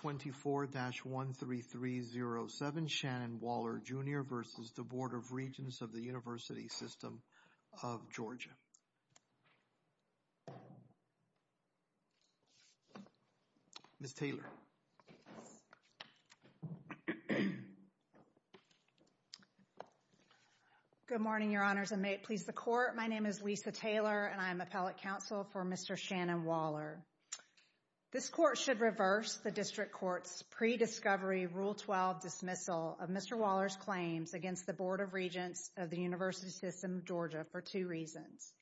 24-13307 Shannon Waller, Jr. v. Board of Regents of the University System of Georgia Ms. Taylor Good morning, Your Honors, and may it please the Court, my name is Lisa Taylor and I am Appellate Counsel for Mr. Shannon Waller. This Court should reverse the District Court's pre-discovery Rule 12 dismissal of Mr. Waller's claims against the Board of Regents of the University System of Georgia for two reasons.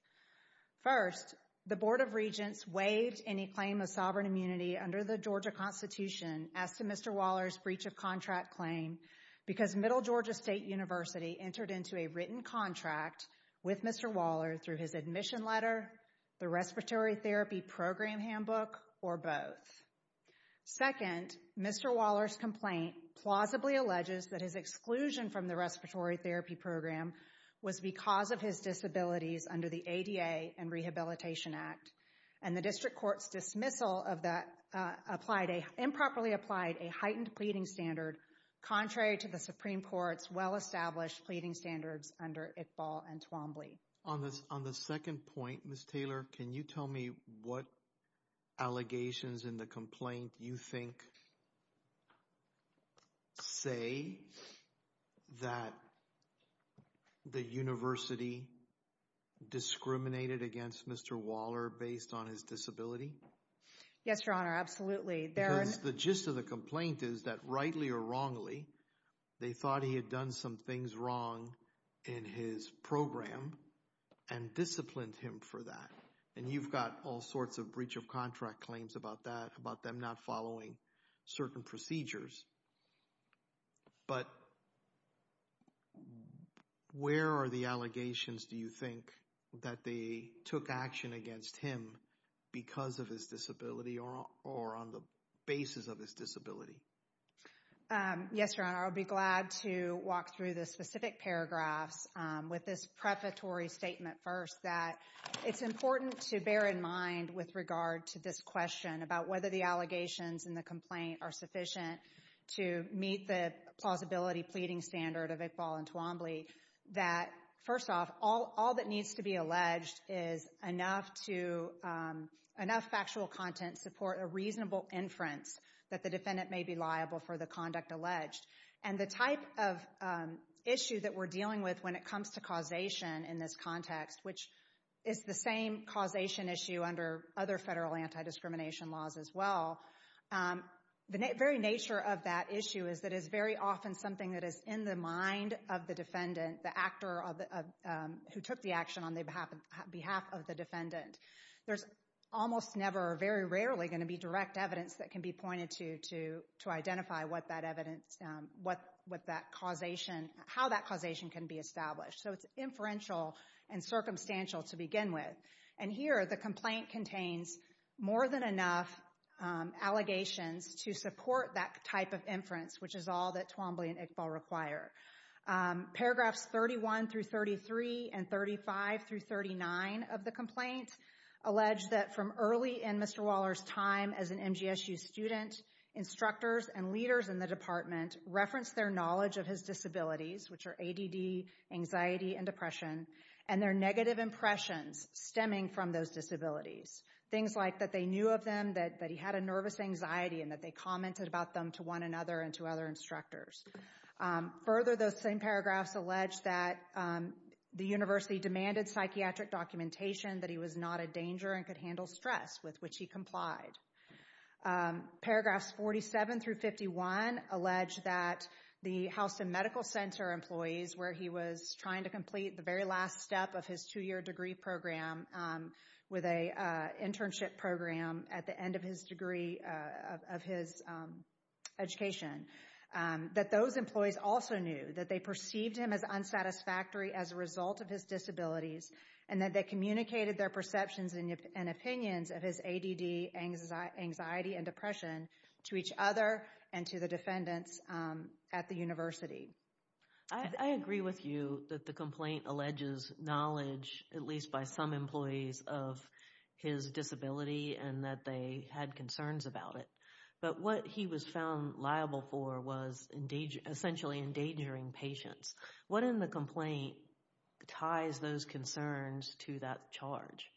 First, the Board of Regents waived any claim of sovereign immunity under the Georgia Constitution as to Mr. Waller's breach of contract claim because Middle Georgia State University entered into a written contract with Mr. Waller through his admission letter, the respiratory therapy program handbook, or both. Second, Mr. Waller's complaint plausibly alleges that his exclusion from the respiratory therapy program was because of his disabilities under the ADA and Rehabilitation Act and the District Court's dismissal of that improperly applied a heightened pleading standard contrary to the Supreme Court's well-established pleading standards under Iqbal and Twombly. On the second point, Ms. Taylor, can you tell me what allegations in the complaint you think say that the University discriminated against Mr. Waller based on his disability? Yes, Your Honor, absolutely. Because the gist of the complaint is that rightly or wrongly, they thought he had done some things wrong in his program and disciplined him for that. And you've got all sorts of breach of contract claims about that, about them not following certain procedures. But where are the allegations, do you think, that they took action against him because of his disability or on the basis of his disability? Yes, Your Honor, I'll be glad to walk through the specific paragraphs with this prefatory statement first. It's important to bear in mind with regard to this question about whether the allegations in the complaint are sufficient to meet the plausibility pleading standard of Iqbal and Twombly that, first off, all that needs to be alleged is enough factual content to support a reasonable inference that the defendant may be liable for the conduct alleged. And the type of issue that we're dealing with when it comes to causation in this context, which is the same causation issue under other federal anti-discrimination laws as well, the very nature of that issue is that it's very often something that is in the mind of the defendant, the actor who took the action on behalf of the defendant. There's almost never, very rarely, going to be direct evidence that can be pointed to to identify what that evidence, what that causation, how that causation can be established. So it's inferential and circumstantial to begin with. And here, the complaint contains more than enough allegations to support that type of inference, which is all that Twombly and Iqbal require. Paragraphs 31 through 33 and 35 through 39 of the complaint allege that from early in Mr. Waller's time as an MGSU student, instructors and leaders in the department referenced their knowledge of his disabilities, which are ADD, anxiety, and depression, and their negative impressions stemming from those disabilities. Things like that they knew of them, that he had a nervous anxiety, and that they commented about them to one another and to other instructors. Further, those same paragraphs allege that the university demanded psychiatric documentation, that he was not a danger and could handle stress, with which he complied. Paragraphs 47 through 51 allege that the Houston Medical Center employees, where he was trying to complete the very last step of his two-year degree program, with an internship program at the end of his degree, of his education, that those employees also knew that they perceived him as unsatisfactory as a result of his disabilities, and that they communicated their perceptions and opinions of his ADD, anxiety, and depression to each other and to the defendants at the university. I agree with you that the complaint alleges knowledge, at least by some employees, of his disability and that they had concerns about it. But what he was found liable for was essentially endangering patients. What in the complaint ties those concerns to that charge?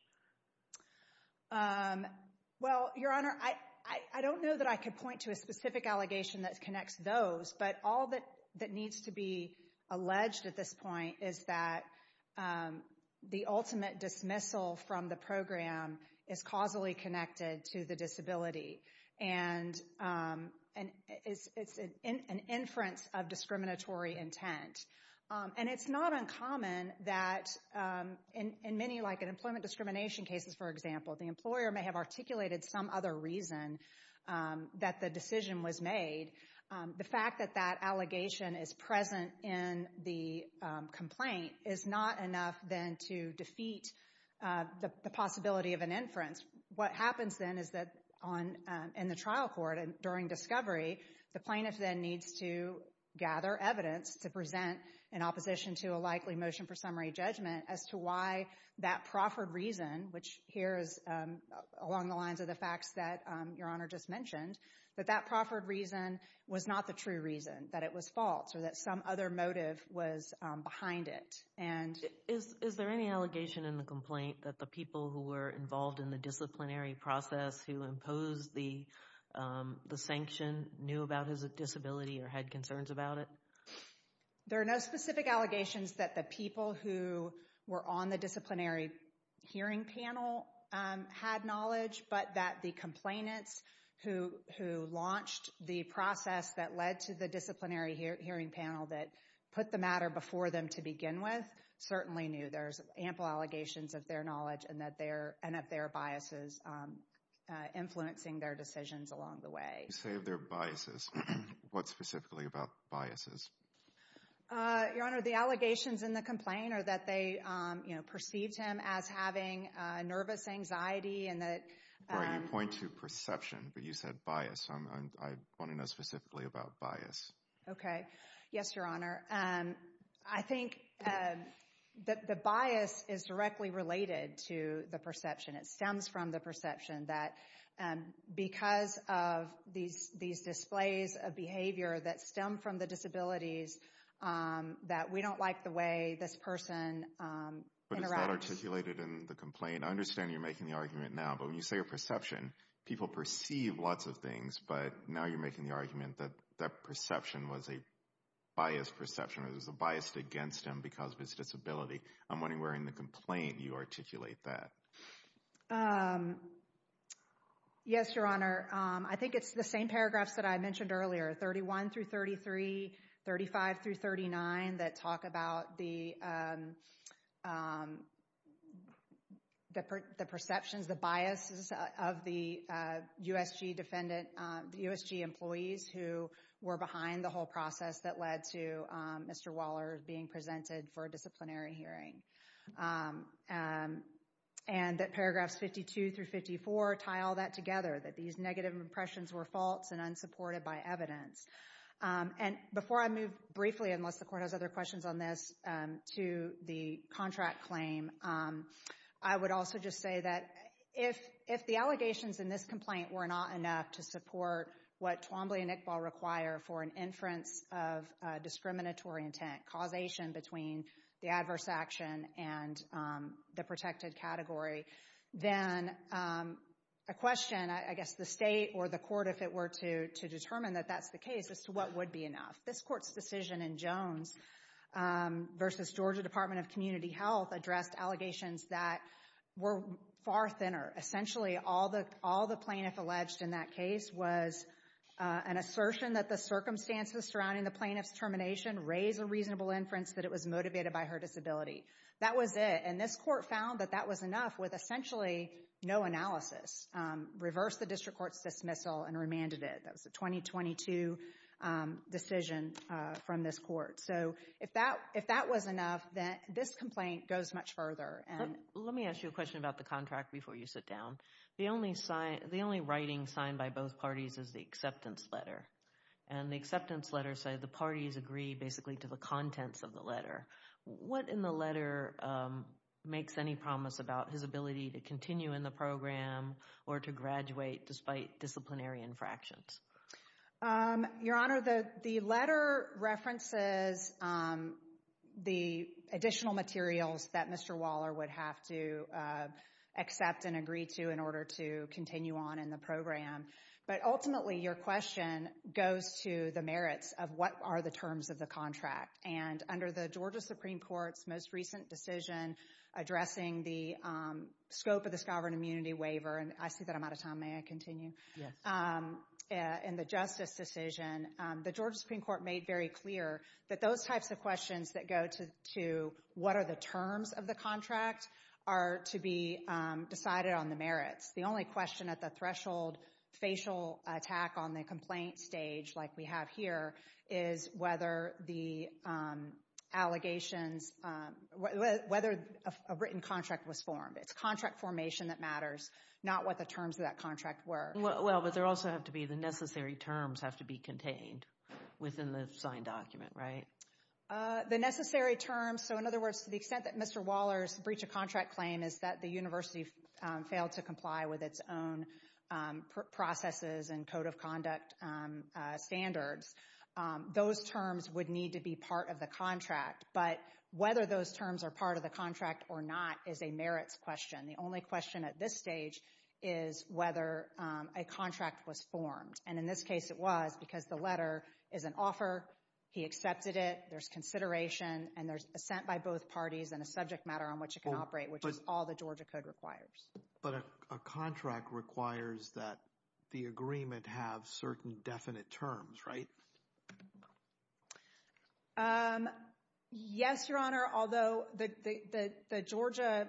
Well, Your Honor, I don't know that I could point to a specific allegation that connects those. But all that needs to be alleged at this point is that the ultimate dismissal from the program is causally connected to the disability. And it's an inference of discriminatory intent. And it's not uncommon that in many employment discrimination cases, for example, the employer may have articulated some other reason that the decision was made. The fact that that allegation is present in the complaint is not enough then to defeat the possibility of an inference. What happens then is that in the trial court and during discovery, the plaintiff then needs to gather evidence to present in opposition to a likely motion for summary judgment as to why that proffered reason, which here is along the lines of the facts that Your Honor just mentioned, that that proffered reason was not the true reason, that it was false, or that some other motive was behind it. Is there any allegation in the complaint that the people who were involved in the disciplinary process who imposed the sanction knew about his disability or had concerns about it? There are no specific allegations that the people who were on the disciplinary hearing panel had knowledge, but that the complainants who launched the process that led to the disciplinary hearing panel that put the matter before them to begin with certainly knew. There's ample allegations of their knowledge and of their biases influencing their decisions along the way. You say their biases. What specifically about biases? Your Honor, the allegations in the complaint are that they perceived him as having nervous anxiety. You point to perception, but you said bias. I want to know specifically about bias. Okay. Yes, Your Honor. I think that the bias is directly related to the perception. It stems from the perception that because of these displays of behavior that stem from the disabilities, that we don't like the way this person interacts. But is that articulated in the complaint? I understand you're making the argument now, but when you say a perception, people perceive lots of things, but now you're making the argument that that perception was a biased perception, it was biased against him because of his disability. I'm wondering where in the complaint you articulate that. Yes, Your Honor. I think it's the same paragraphs that I mentioned earlier, 31 through 33, 35 through 39, that talk about the perceptions, the biases of the USG employees who were behind the whole process that led to Mr. Waller being presented for a disciplinary hearing. And that paragraphs 52 through 54 tie all that together, that these negative impressions were false and unsupported by evidence. And before I move briefly, unless the court has other questions on this, to the contract claim, I would also just say that if the allegations in this complaint were not enough to support what Twombly and Iqbal require for an inference of discriminatory intent, causation between the adverse action and the protected category, then a question, I guess the state or the court, if it were to determine that that's the case, as to what would be enough. This court's decision in Jones versus Georgia Department of Community Health addressed allegations that were far thinner. Essentially, all the plaintiff alleged in that case was an assertion that the circumstances surrounding the plaintiff's termination raise a reasonable inference that it was motivated by her disability. That was it, and this court found that that was enough with essentially no analysis, reversed the district court's dismissal and remanded it. That was a 2022 decision from this court. So if that was enough, then this complaint goes much further. Let me ask you a question about the contract before you sit down. The only writing signed by both parties is the acceptance letter. And the acceptance letter said the parties agree basically to the contents of the letter. What in the letter makes any promise about his ability to continue in the program or to graduate despite disciplinary infractions? Your Honor, the letter references the additional materials that Mr. Waller would have to accept and agree to in order to continue on in the program. But ultimately, your question goes to the merits of what are the terms of the contract. And under the Georgia Supreme Court's most recent decision addressing the scope of the scovered immunity waiver, and I see that I'm out of time. May I continue? In the justice decision, the Georgia Supreme Court made very clear that those types of questions that go to what are the terms of the contract are to be decided on the merits. The only question at the threshold facial attack on the complaint stage like we have here is whether the allegations, whether a written contract was formed. It's contract formation that matters, not what the terms of that contract were. Well, but there also have to be the necessary terms have to be contained within the signed document, right? The necessary terms, so in other words, to the extent that Mr. Waller's breach of contract claim is that the university failed to comply with its own processes and code of conduct standards. Those terms would need to be part of the contract, but whether those terms are part of the contract or not is a merits question. The only question at this stage is whether a contract was formed, and in this case it was because the letter is an offer. He accepted it. There's consideration, and there's assent by both parties and a subject matter on which it can operate, which is all the Georgia Code requires. But a contract requires that the agreement have certain definite terms, right? Yes, Your Honor, although the Georgia,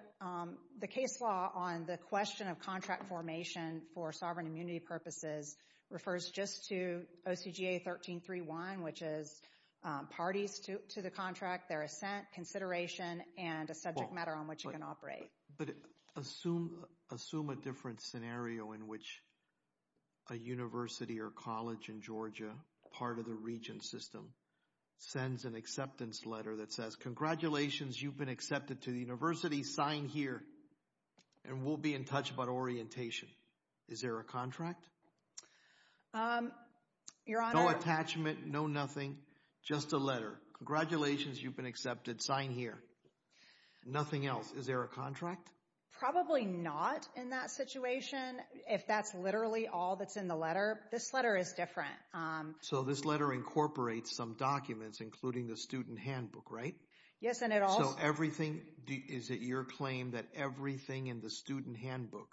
the case law on the question of contract formation for sovereign immunity purposes refers just to OCGA 1331, which is parties to the contract, their assent, consideration, and a subject matter on which it can operate. But assume a different scenario in which a university or college in Georgia, part of the region system, sends an acceptance letter that says, congratulations, you've been accepted to the university. Sign here, and we'll be in touch about orientation. Is there a contract? No attachment, no nothing, just a letter. Congratulations, you've been accepted. Sign here. Nothing else. Is there a contract? Probably not in that situation, if that's literally all that's in the letter. This letter is different. So this letter incorporates some documents, including the student handbook, right? Yes, and it also... So everything, is it your claim that everything in the student handbook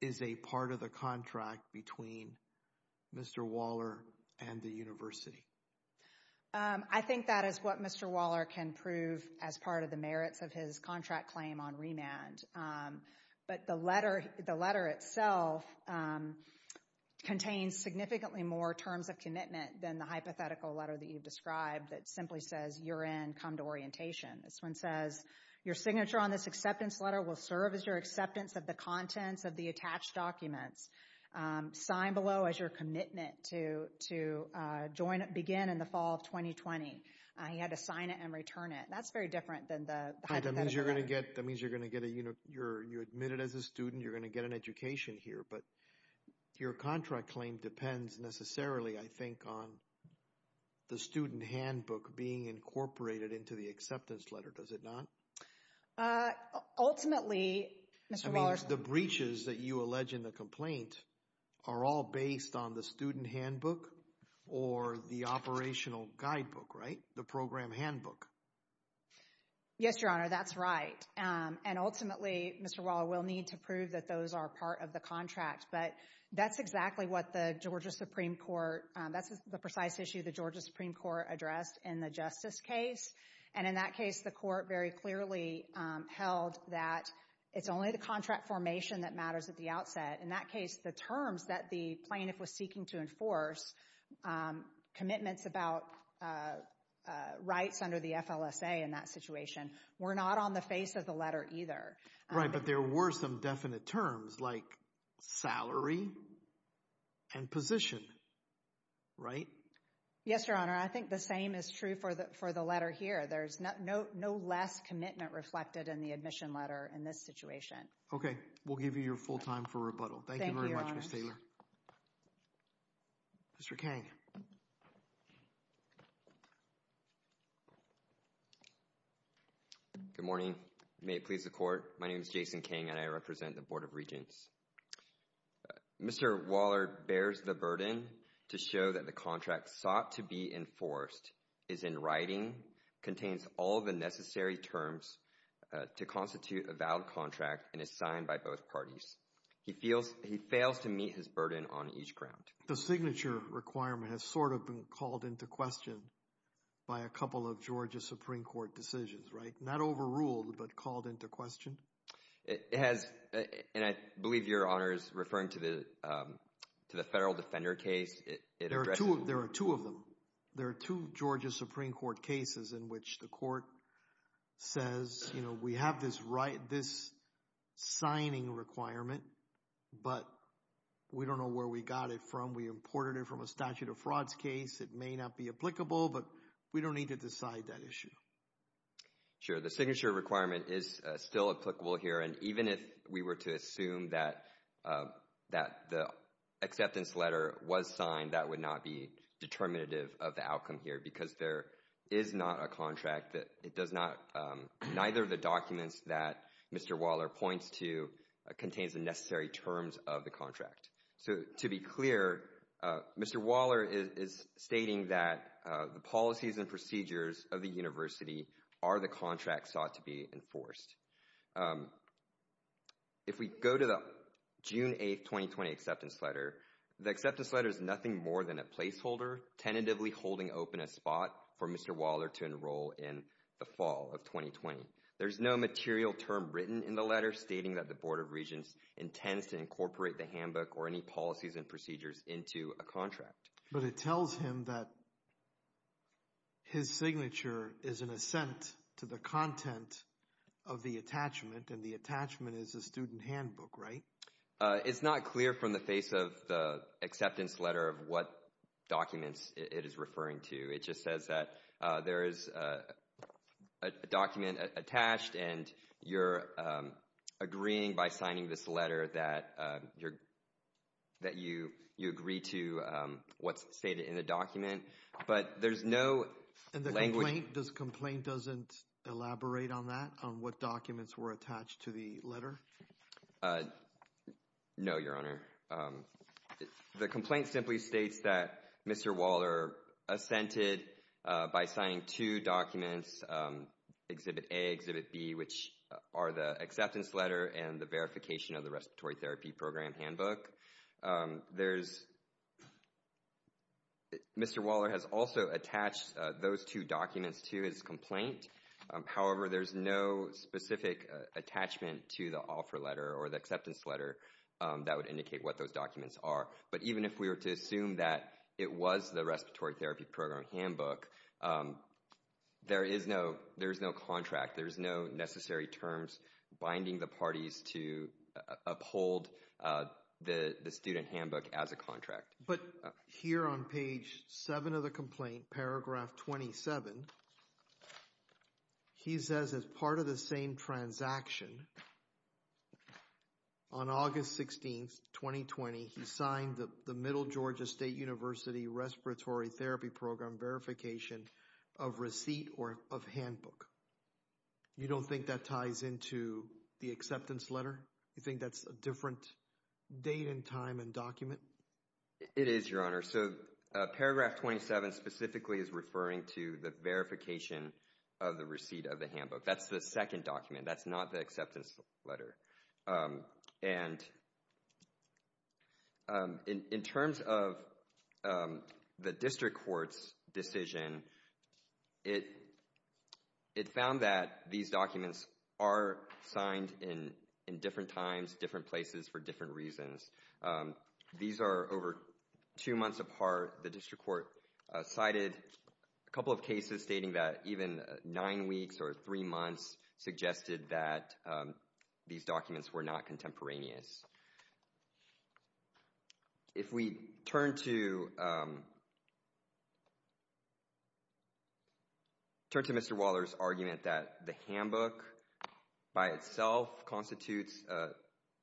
is a part of the contract between Mr. Waller and the university? I think that is what Mr. Waller can prove as part of the merits of his contract claim on remand. But the letter itself contains significantly more terms of commitment than the hypothetical letter that you've described that simply says, you're in, come to orientation. This one says, your signature on this acceptance letter will serve as your acceptance of the contents of the attached documents. Sign below as your commitment to begin in the fall of 2020. He had to sign it and return it. That's very different than the hypothetical letter. Okay, that means you're going to get a, you're admitted as a student, you're going to get an education here. But your contract claim depends necessarily, I think, on the student handbook being incorporated into the acceptance letter, does it not? Ultimately, Mr. Waller... I mean, the breaches that you allege in the complaint are all based on the student handbook or the operational guidebook, right? The program handbook. Yes, Your Honor, that's right. And ultimately, Mr. Waller, we'll need to prove that those are part of the contract. But that's exactly what the Georgia Supreme Court, that's the precise issue the Georgia Supreme Court addressed in the justice case. And in that case, the court very clearly held that it's only the contract formation that matters at the outset. In that case, the terms that the plaintiff was seeking to enforce, commitments about rights under the FLSA in that situation, were not on the face of the letter either. Right, but there were some definite terms like salary and position, right? Yes, Your Honor, I think the same is true for the letter here. There's no less commitment reflected in the admission letter in this situation. Okay, we'll give you your full time for rebuttal. Thank you very much, Ms. Taylor. Thank you, Your Honor. Mr. Kang. Good morning. May it please the Court, my name is Jason Kang and I represent the Board of Regents. Mr. Waller bears the burden to show that the contract sought to be enforced is in writing, contains all the necessary terms to constitute a valid contract, and is signed by both parties. He fails to meet his burden on each ground. The signature requirement has sort of been called into question by a couple of Georgia Supreme Court decisions, right? Not overruled, but called into question? It has, and I believe Your Honor is referring to the Federal Defender case. There are two of them. There are two Georgia Supreme Court cases in which the Court says, you know, we have this signing requirement, but we don't know where we got it from. We imported it from a statute of frauds case. It may not be applicable, but we don't need to decide that issue. Sure, the signature requirement is still applicable here, and even if we were to assume that the acceptance letter was signed, that would not be determinative of the outcome here, because there is not a contract that does not, neither of the documents that Mr. Waller points to contains the necessary terms of the contract. So, to be clear, Mr. Waller is stating that the policies and procedures of the university are the contract sought to be enforced. If we go to the June 8, 2020 acceptance letter, the acceptance letter is nothing more than a placeholder tentatively holding open a spot for Mr. Waller to enroll in the fall of 2020. There's no material term written in the letter stating that the Board of Regents intends to incorporate the handbook or any policies and procedures into a contract. But it tells him that his signature is an assent to the content of the attachment, and the attachment is a student handbook, right? It's not clear from the face of the acceptance letter of what documents it is referring to. It just says that there is a document attached, and you're agreeing by signing this letter that you agree to what's stated in the document, but there's no language. And the complaint doesn't elaborate on that, on what documents were attached to the letter? No, Your Honor. The complaint simply states that Mr. Waller assented by signing two documents, Exhibit A and Exhibit B, which are the acceptance letter and the verification of the respiratory therapy program handbook. Mr. Waller has also attached those two documents to his complaint. However, there's no specific attachment to the offer letter or the acceptance letter that would indicate what those documents are. But even if we were to assume that it was the respiratory therapy program handbook, there is no contract. There's no necessary terms binding the parties to uphold the student handbook as a contract. But here on page 7 of the complaint, paragraph 27, he says as part of the same transaction, on August 16, 2020, he signed the Middle Georgia State University Respiratory Therapy Program Verification of Receipt or of Handbook. You don't think that ties into the acceptance letter? You think that's a different date and time and document? It is, Your Honor. So paragraph 27 specifically is referring to the verification of the receipt of the handbook. That's the second document. That's not the acceptance letter. And in terms of the district court's decision, it found that these documents are signed in different times, different places, for different reasons. These are over two months apart. The district court cited a couple of cases stating that even nine weeks or three months suggested that these documents were not contemporaneous. If we turn to Mr. Waller's argument that the handbook by itself constitutes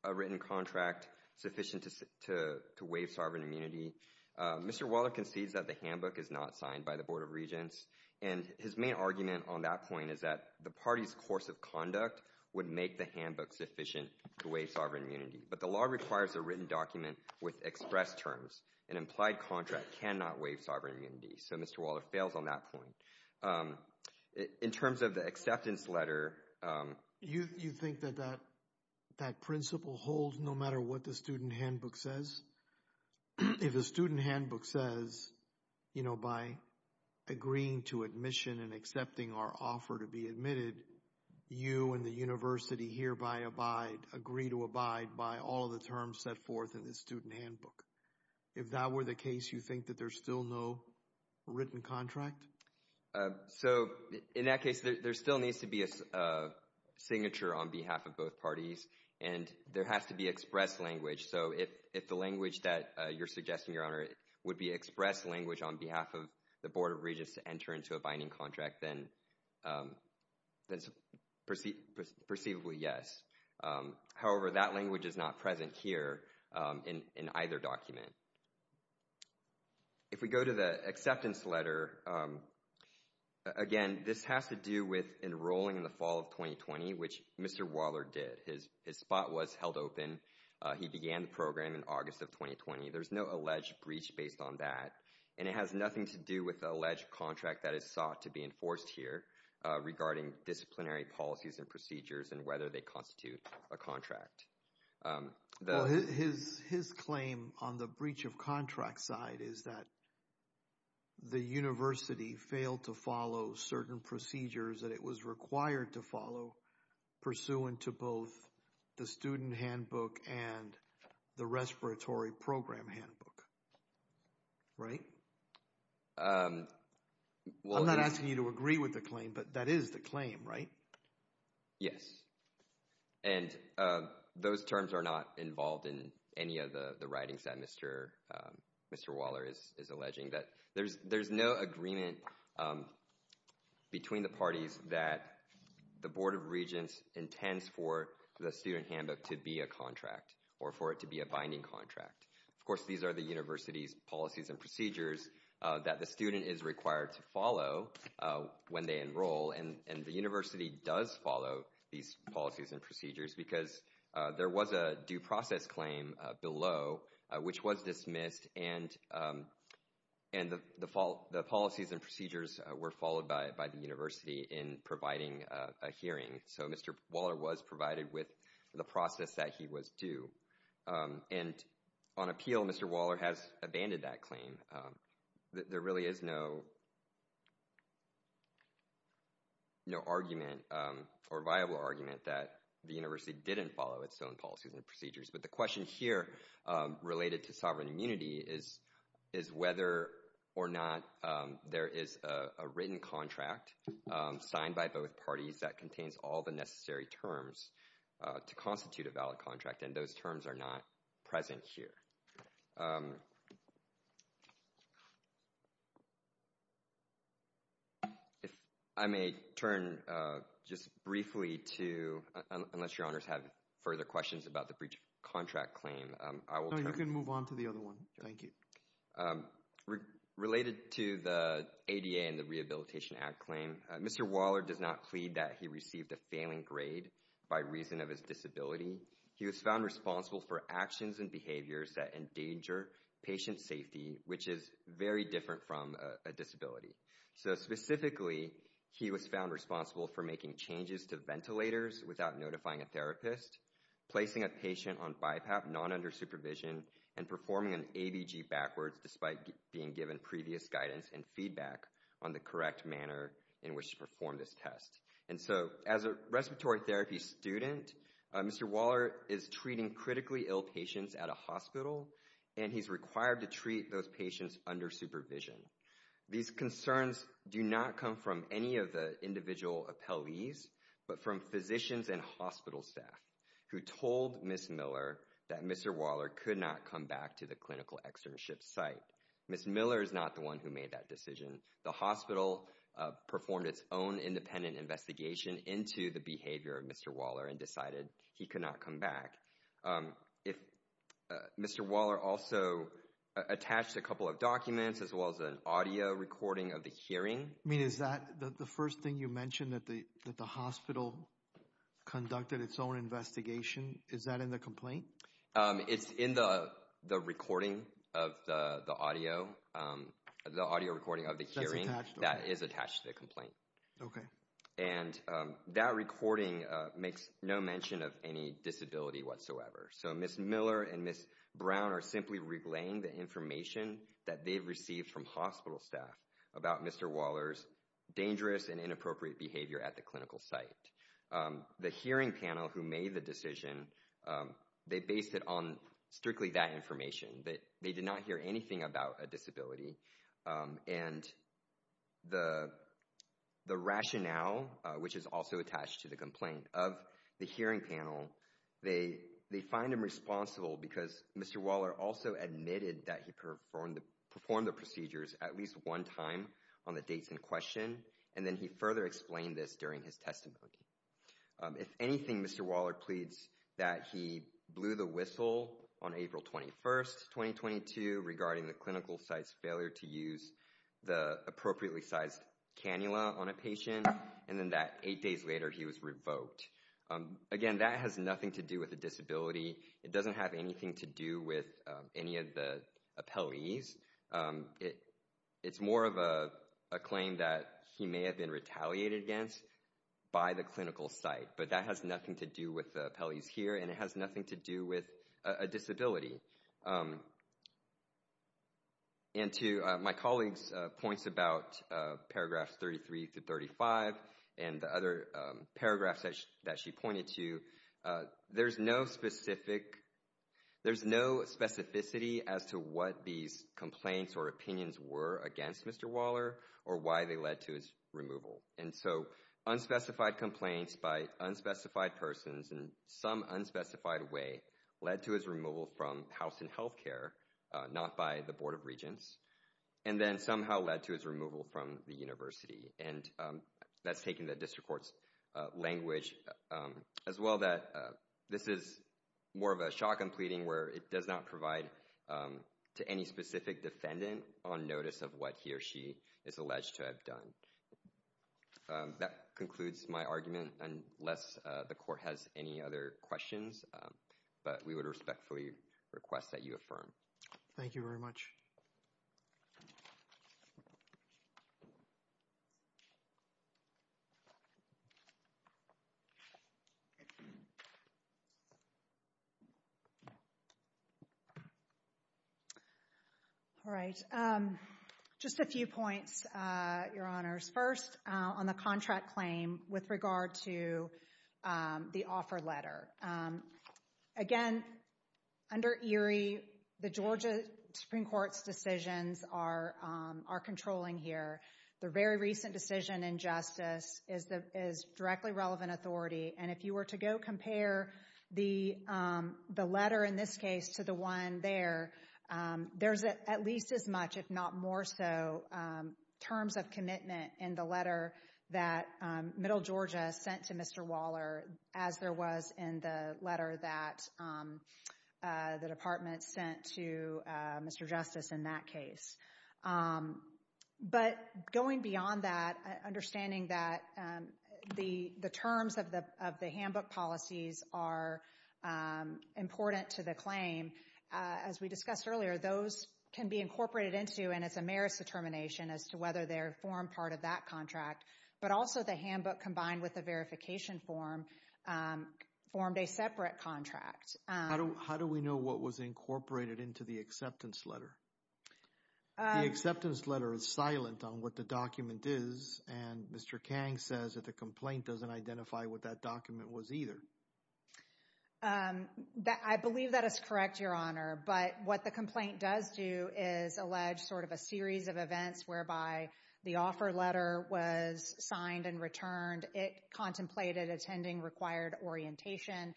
a written contract sufficient to waive sovereign immunity, Mr. Waller concedes that the handbook is not signed by the Board of Regents. And his main argument on that point is that the party's course of conduct would make the handbook sufficient to waive sovereign immunity. But the law requires a written document with express terms. An implied contract cannot waive sovereign immunity. So Mr. Waller fails on that point. In terms of the acceptance letter— You think that that principle holds no matter what the student handbook says? If a student handbook says, you know, by agreeing to admission and accepting our offer to be admitted, you and the university hereby agree to abide by all the terms set forth in the student handbook. If that were the case, you think that there's still no written contract? So in that case, there still needs to be a signature on behalf of both parties, and there has to be express language. So if the language that you're suggesting, Your Honor, would be express language on behalf of the Board of Regents to enter into a binding contract, then it's perceivably yes. However, that language is not present here in either document. If we go to the acceptance letter, again, this has to do with enrolling in the fall of 2020, which Mr. Waller did. His spot was held open. He began the program in August of 2020. There's no alleged breach based on that, and it has nothing to do with the alleged contract that is sought to be enforced here regarding disciplinary policies and procedures and whether they constitute a contract. Well, his claim on the breach of contract side is that the university failed to follow certain procedures that it was required to follow pursuant to both the student handbook and the respiratory program handbook. Right? I'm not asking you to agree with the claim, but that is the claim, right? Yes. And those terms are not involved in any of the writings that Mr. Waller is alleging. There's no agreement between the parties that the Board of Regents intends for the student handbook to be a contract or for it to be a binding contract. Of course, these are the university's policies and procedures that the student is required to follow when they enroll, and the university does follow these policies and procedures because there was a due process claim below, which was dismissed, and the policies and procedures were followed by the university in providing a hearing. So, Mr. Waller was provided with the process that he was due. And on appeal, Mr. Waller has abandoned that claim. There really is no argument or viable argument that the university didn't follow its own policies and procedures. But the question here related to sovereign immunity is whether or not there is a written contract signed by both parties that contains all the necessary terms to constitute a valid contract, and those terms are not present here. If I may turn just briefly to—unless Your Honors have further questions about the breach of contract claim— No, you can move on to the other one. Thank you. Related to the ADA and the Rehabilitation Act claim, Mr. Waller does not plead that he received a failing grade by reason of his disability. He was found responsible for actions and behaviors that endanger patient safety, which is very different from a disability. So, specifically, he was found responsible for making changes to ventilators without notifying a therapist, placing a patient on BiPAP not under supervision, and performing an ABG backwards despite being given previous guidance and feedback on the correct manner in which to perform this test. And so, as a respiratory therapy student, Mr. Waller is treating critically ill patients at a hospital, and he's required to treat those patients under supervision. These concerns do not come from any of the individual appellees, but from physicians and hospital staff who told Ms. Miller that Mr. Waller could not come back to the clinical externship site. Ms. Miller is not the one who made that decision. The hospital performed its own independent investigation into the behavior of Mr. Waller and decided he could not come back. Mr. Waller also attached a couple of documents as well as an audio recording of the hearing. I mean, is that the first thing you mentioned, that the hospital conducted its own investigation? Is that in the complaint? It's in the recording of the audio recording of the hearing that is attached to the complaint. Okay. And that recording makes no mention of any disability whatsoever. So Ms. Miller and Ms. Brown are simply relaying the information that they've received from hospital staff about Mr. Waller's dangerous and inappropriate behavior at the clinical site. The hearing panel who made the decision, they based it on strictly that information, that they did not hear anything about a disability. And the rationale, which is also attached to the complaint of the hearing panel, they find him responsible because Mr. Waller also admitted that he performed the procedures at least one time on the dates in question. And then he further explained this during his testimony. If anything, Mr. Waller pleads that he blew the whistle on April 21st, 2022, regarding the clinical site's failure to use the appropriately sized cannula on a patient. And then that eight days later, he was revoked. Again, that has nothing to do with a disability. It doesn't have anything to do with any of the appellees. It's more of a claim that he may have been retaliated against by the clinical site. But that has nothing to do with the appellees here, and it has nothing to do with a disability. And to my colleague's points about paragraphs 33 to 35 and the other paragraphs that she pointed to, there's no specific, there's no specificity as to what these complaints or opinions were against Mr. Waller or why they led to his removal. And so unspecified complaints by unspecified persons in some unspecified way led to his removal from House and Health Care, not by the Board of Regents, and then somehow led to his removal from the university. And that's taken the district court's language as well that this is more of a shock and pleading where it does not provide to any specific defendant on notice of what he or she is alleged to have done. That concludes my argument, unless the court has any other questions. But we would respectfully request that you affirm. Thank you very much. All right. Just a few points, Your Honors. First, on the contract claim with regard to the offer letter. Again, under Erie, the Georgia Supreme Court's decisions are controlling here. The very recent decision in justice is directly relevant authority. And if you were to go compare the letter in this case to the one there, there's at least as much, if not more so, terms of commitment in the letter that Middle Georgia sent to Mr. Waller as there was in the letter that the department sent to Mr. Justice in that case. But going beyond that, understanding that the terms of the handbook policies are important to the claim, as we discussed earlier, those can be incorporated into, and it's a merits determination as to whether they form part of that contract. But also the handbook combined with the verification form formed a separate contract. How do we know what was incorporated into the acceptance letter? The acceptance letter is silent on what the document is, and Mr. Kang says that the complaint doesn't identify what that document was either. I believe that is correct, Your Honor. But what the complaint does do is allege sort of a series of events whereby the offer letter was signed and returned. It contemplated attending required orientation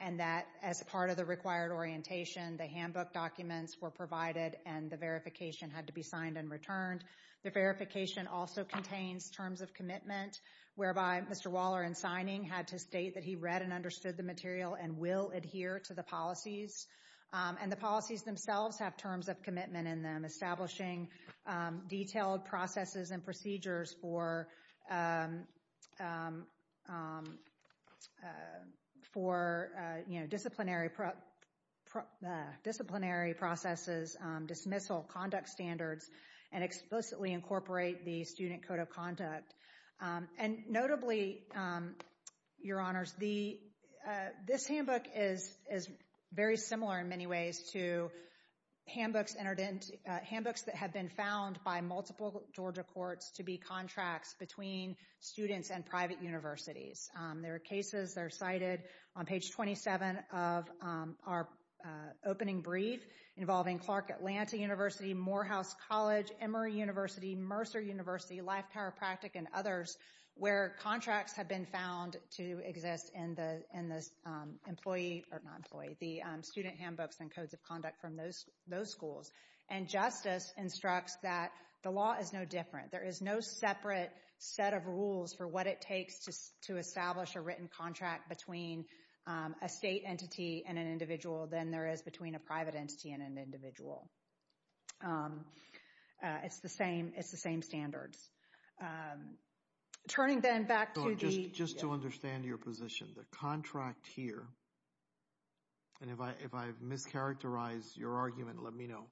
and that as part of the required orientation, the handbook documents were provided and the verification had to be signed and returned. The verification also contains terms of commitment whereby Mr. Waller in signing had to state that he read and understood the material and will adhere to the policies. And the policies themselves have terms of commitment in them, establishing detailed processes and procedures for disciplinary processes, dismissal, conduct standards, and explicitly incorporate the student code of conduct. And notably, Your Honors, this handbook is very similar in many ways to handbooks that have been found by multiple Georgia courts to be contracts between students and private universities. There are cases that are cited on page 27 of our opening brief involving Clark Atlanta University, Morehouse College, Emory University, Mercer University, Life Chiropractic, and others where contracts have been found to exist in the student handbooks and codes of conduct from those schools. And justice instructs that the law is no different. There is no separate set of rules for what it takes to establish a written contract between a state entity and an individual than there is between a private entity and an individual. It's the same standards. Turning then back to the... Just to understand your position, the contract here, and if I've mischaracterized your argument, let me know.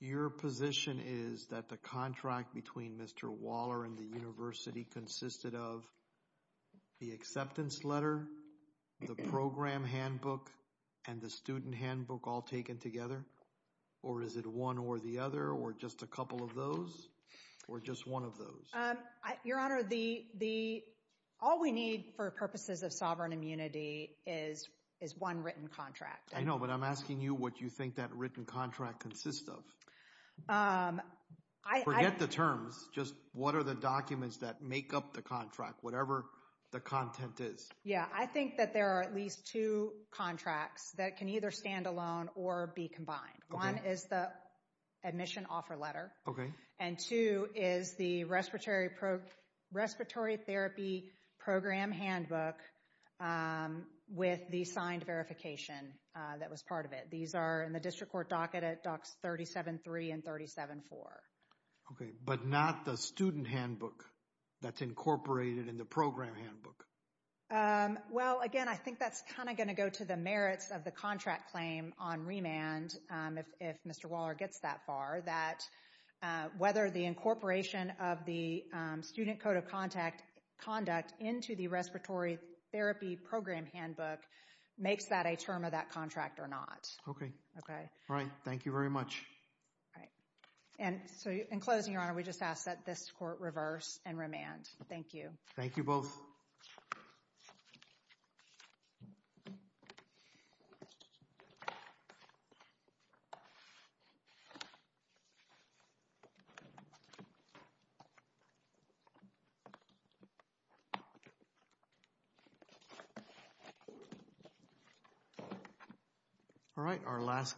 Your position is that the contract between Mr. Waller and the university consisted of the acceptance letter, the program handbook, and the student handbook all taken together? Or is it one or the other, or just a couple of those, or just one of those? Your Honor, all we need for purposes of sovereign immunity is one written contract. I know, but I'm asking you what you think that written contract consists of. I... Forget the terms, just what are the documents that make up the contract, whatever the content is. Yeah, I think that there are at least two contracts that can either stand alone or be combined. One is the admission offer letter. And two is the respiratory therapy program handbook with the signed verification that was part of it. These are in the district court docket at Docs 37-3 and 37-4. Okay, but not the student handbook that's incorporated in the program handbook? Well, again, I think that's kind of going to go to the merits of the contract claim on remand if Mr. Waller gets that far, that whether the incorporation of the student code of conduct into the respiratory therapy program handbook makes that a term of that contract or not. Okay. Okay. All right. Thank you very much. All right. And so in closing, Your Honor, we just ask that this court reverse and remand. Thank you. Thank you both. All right.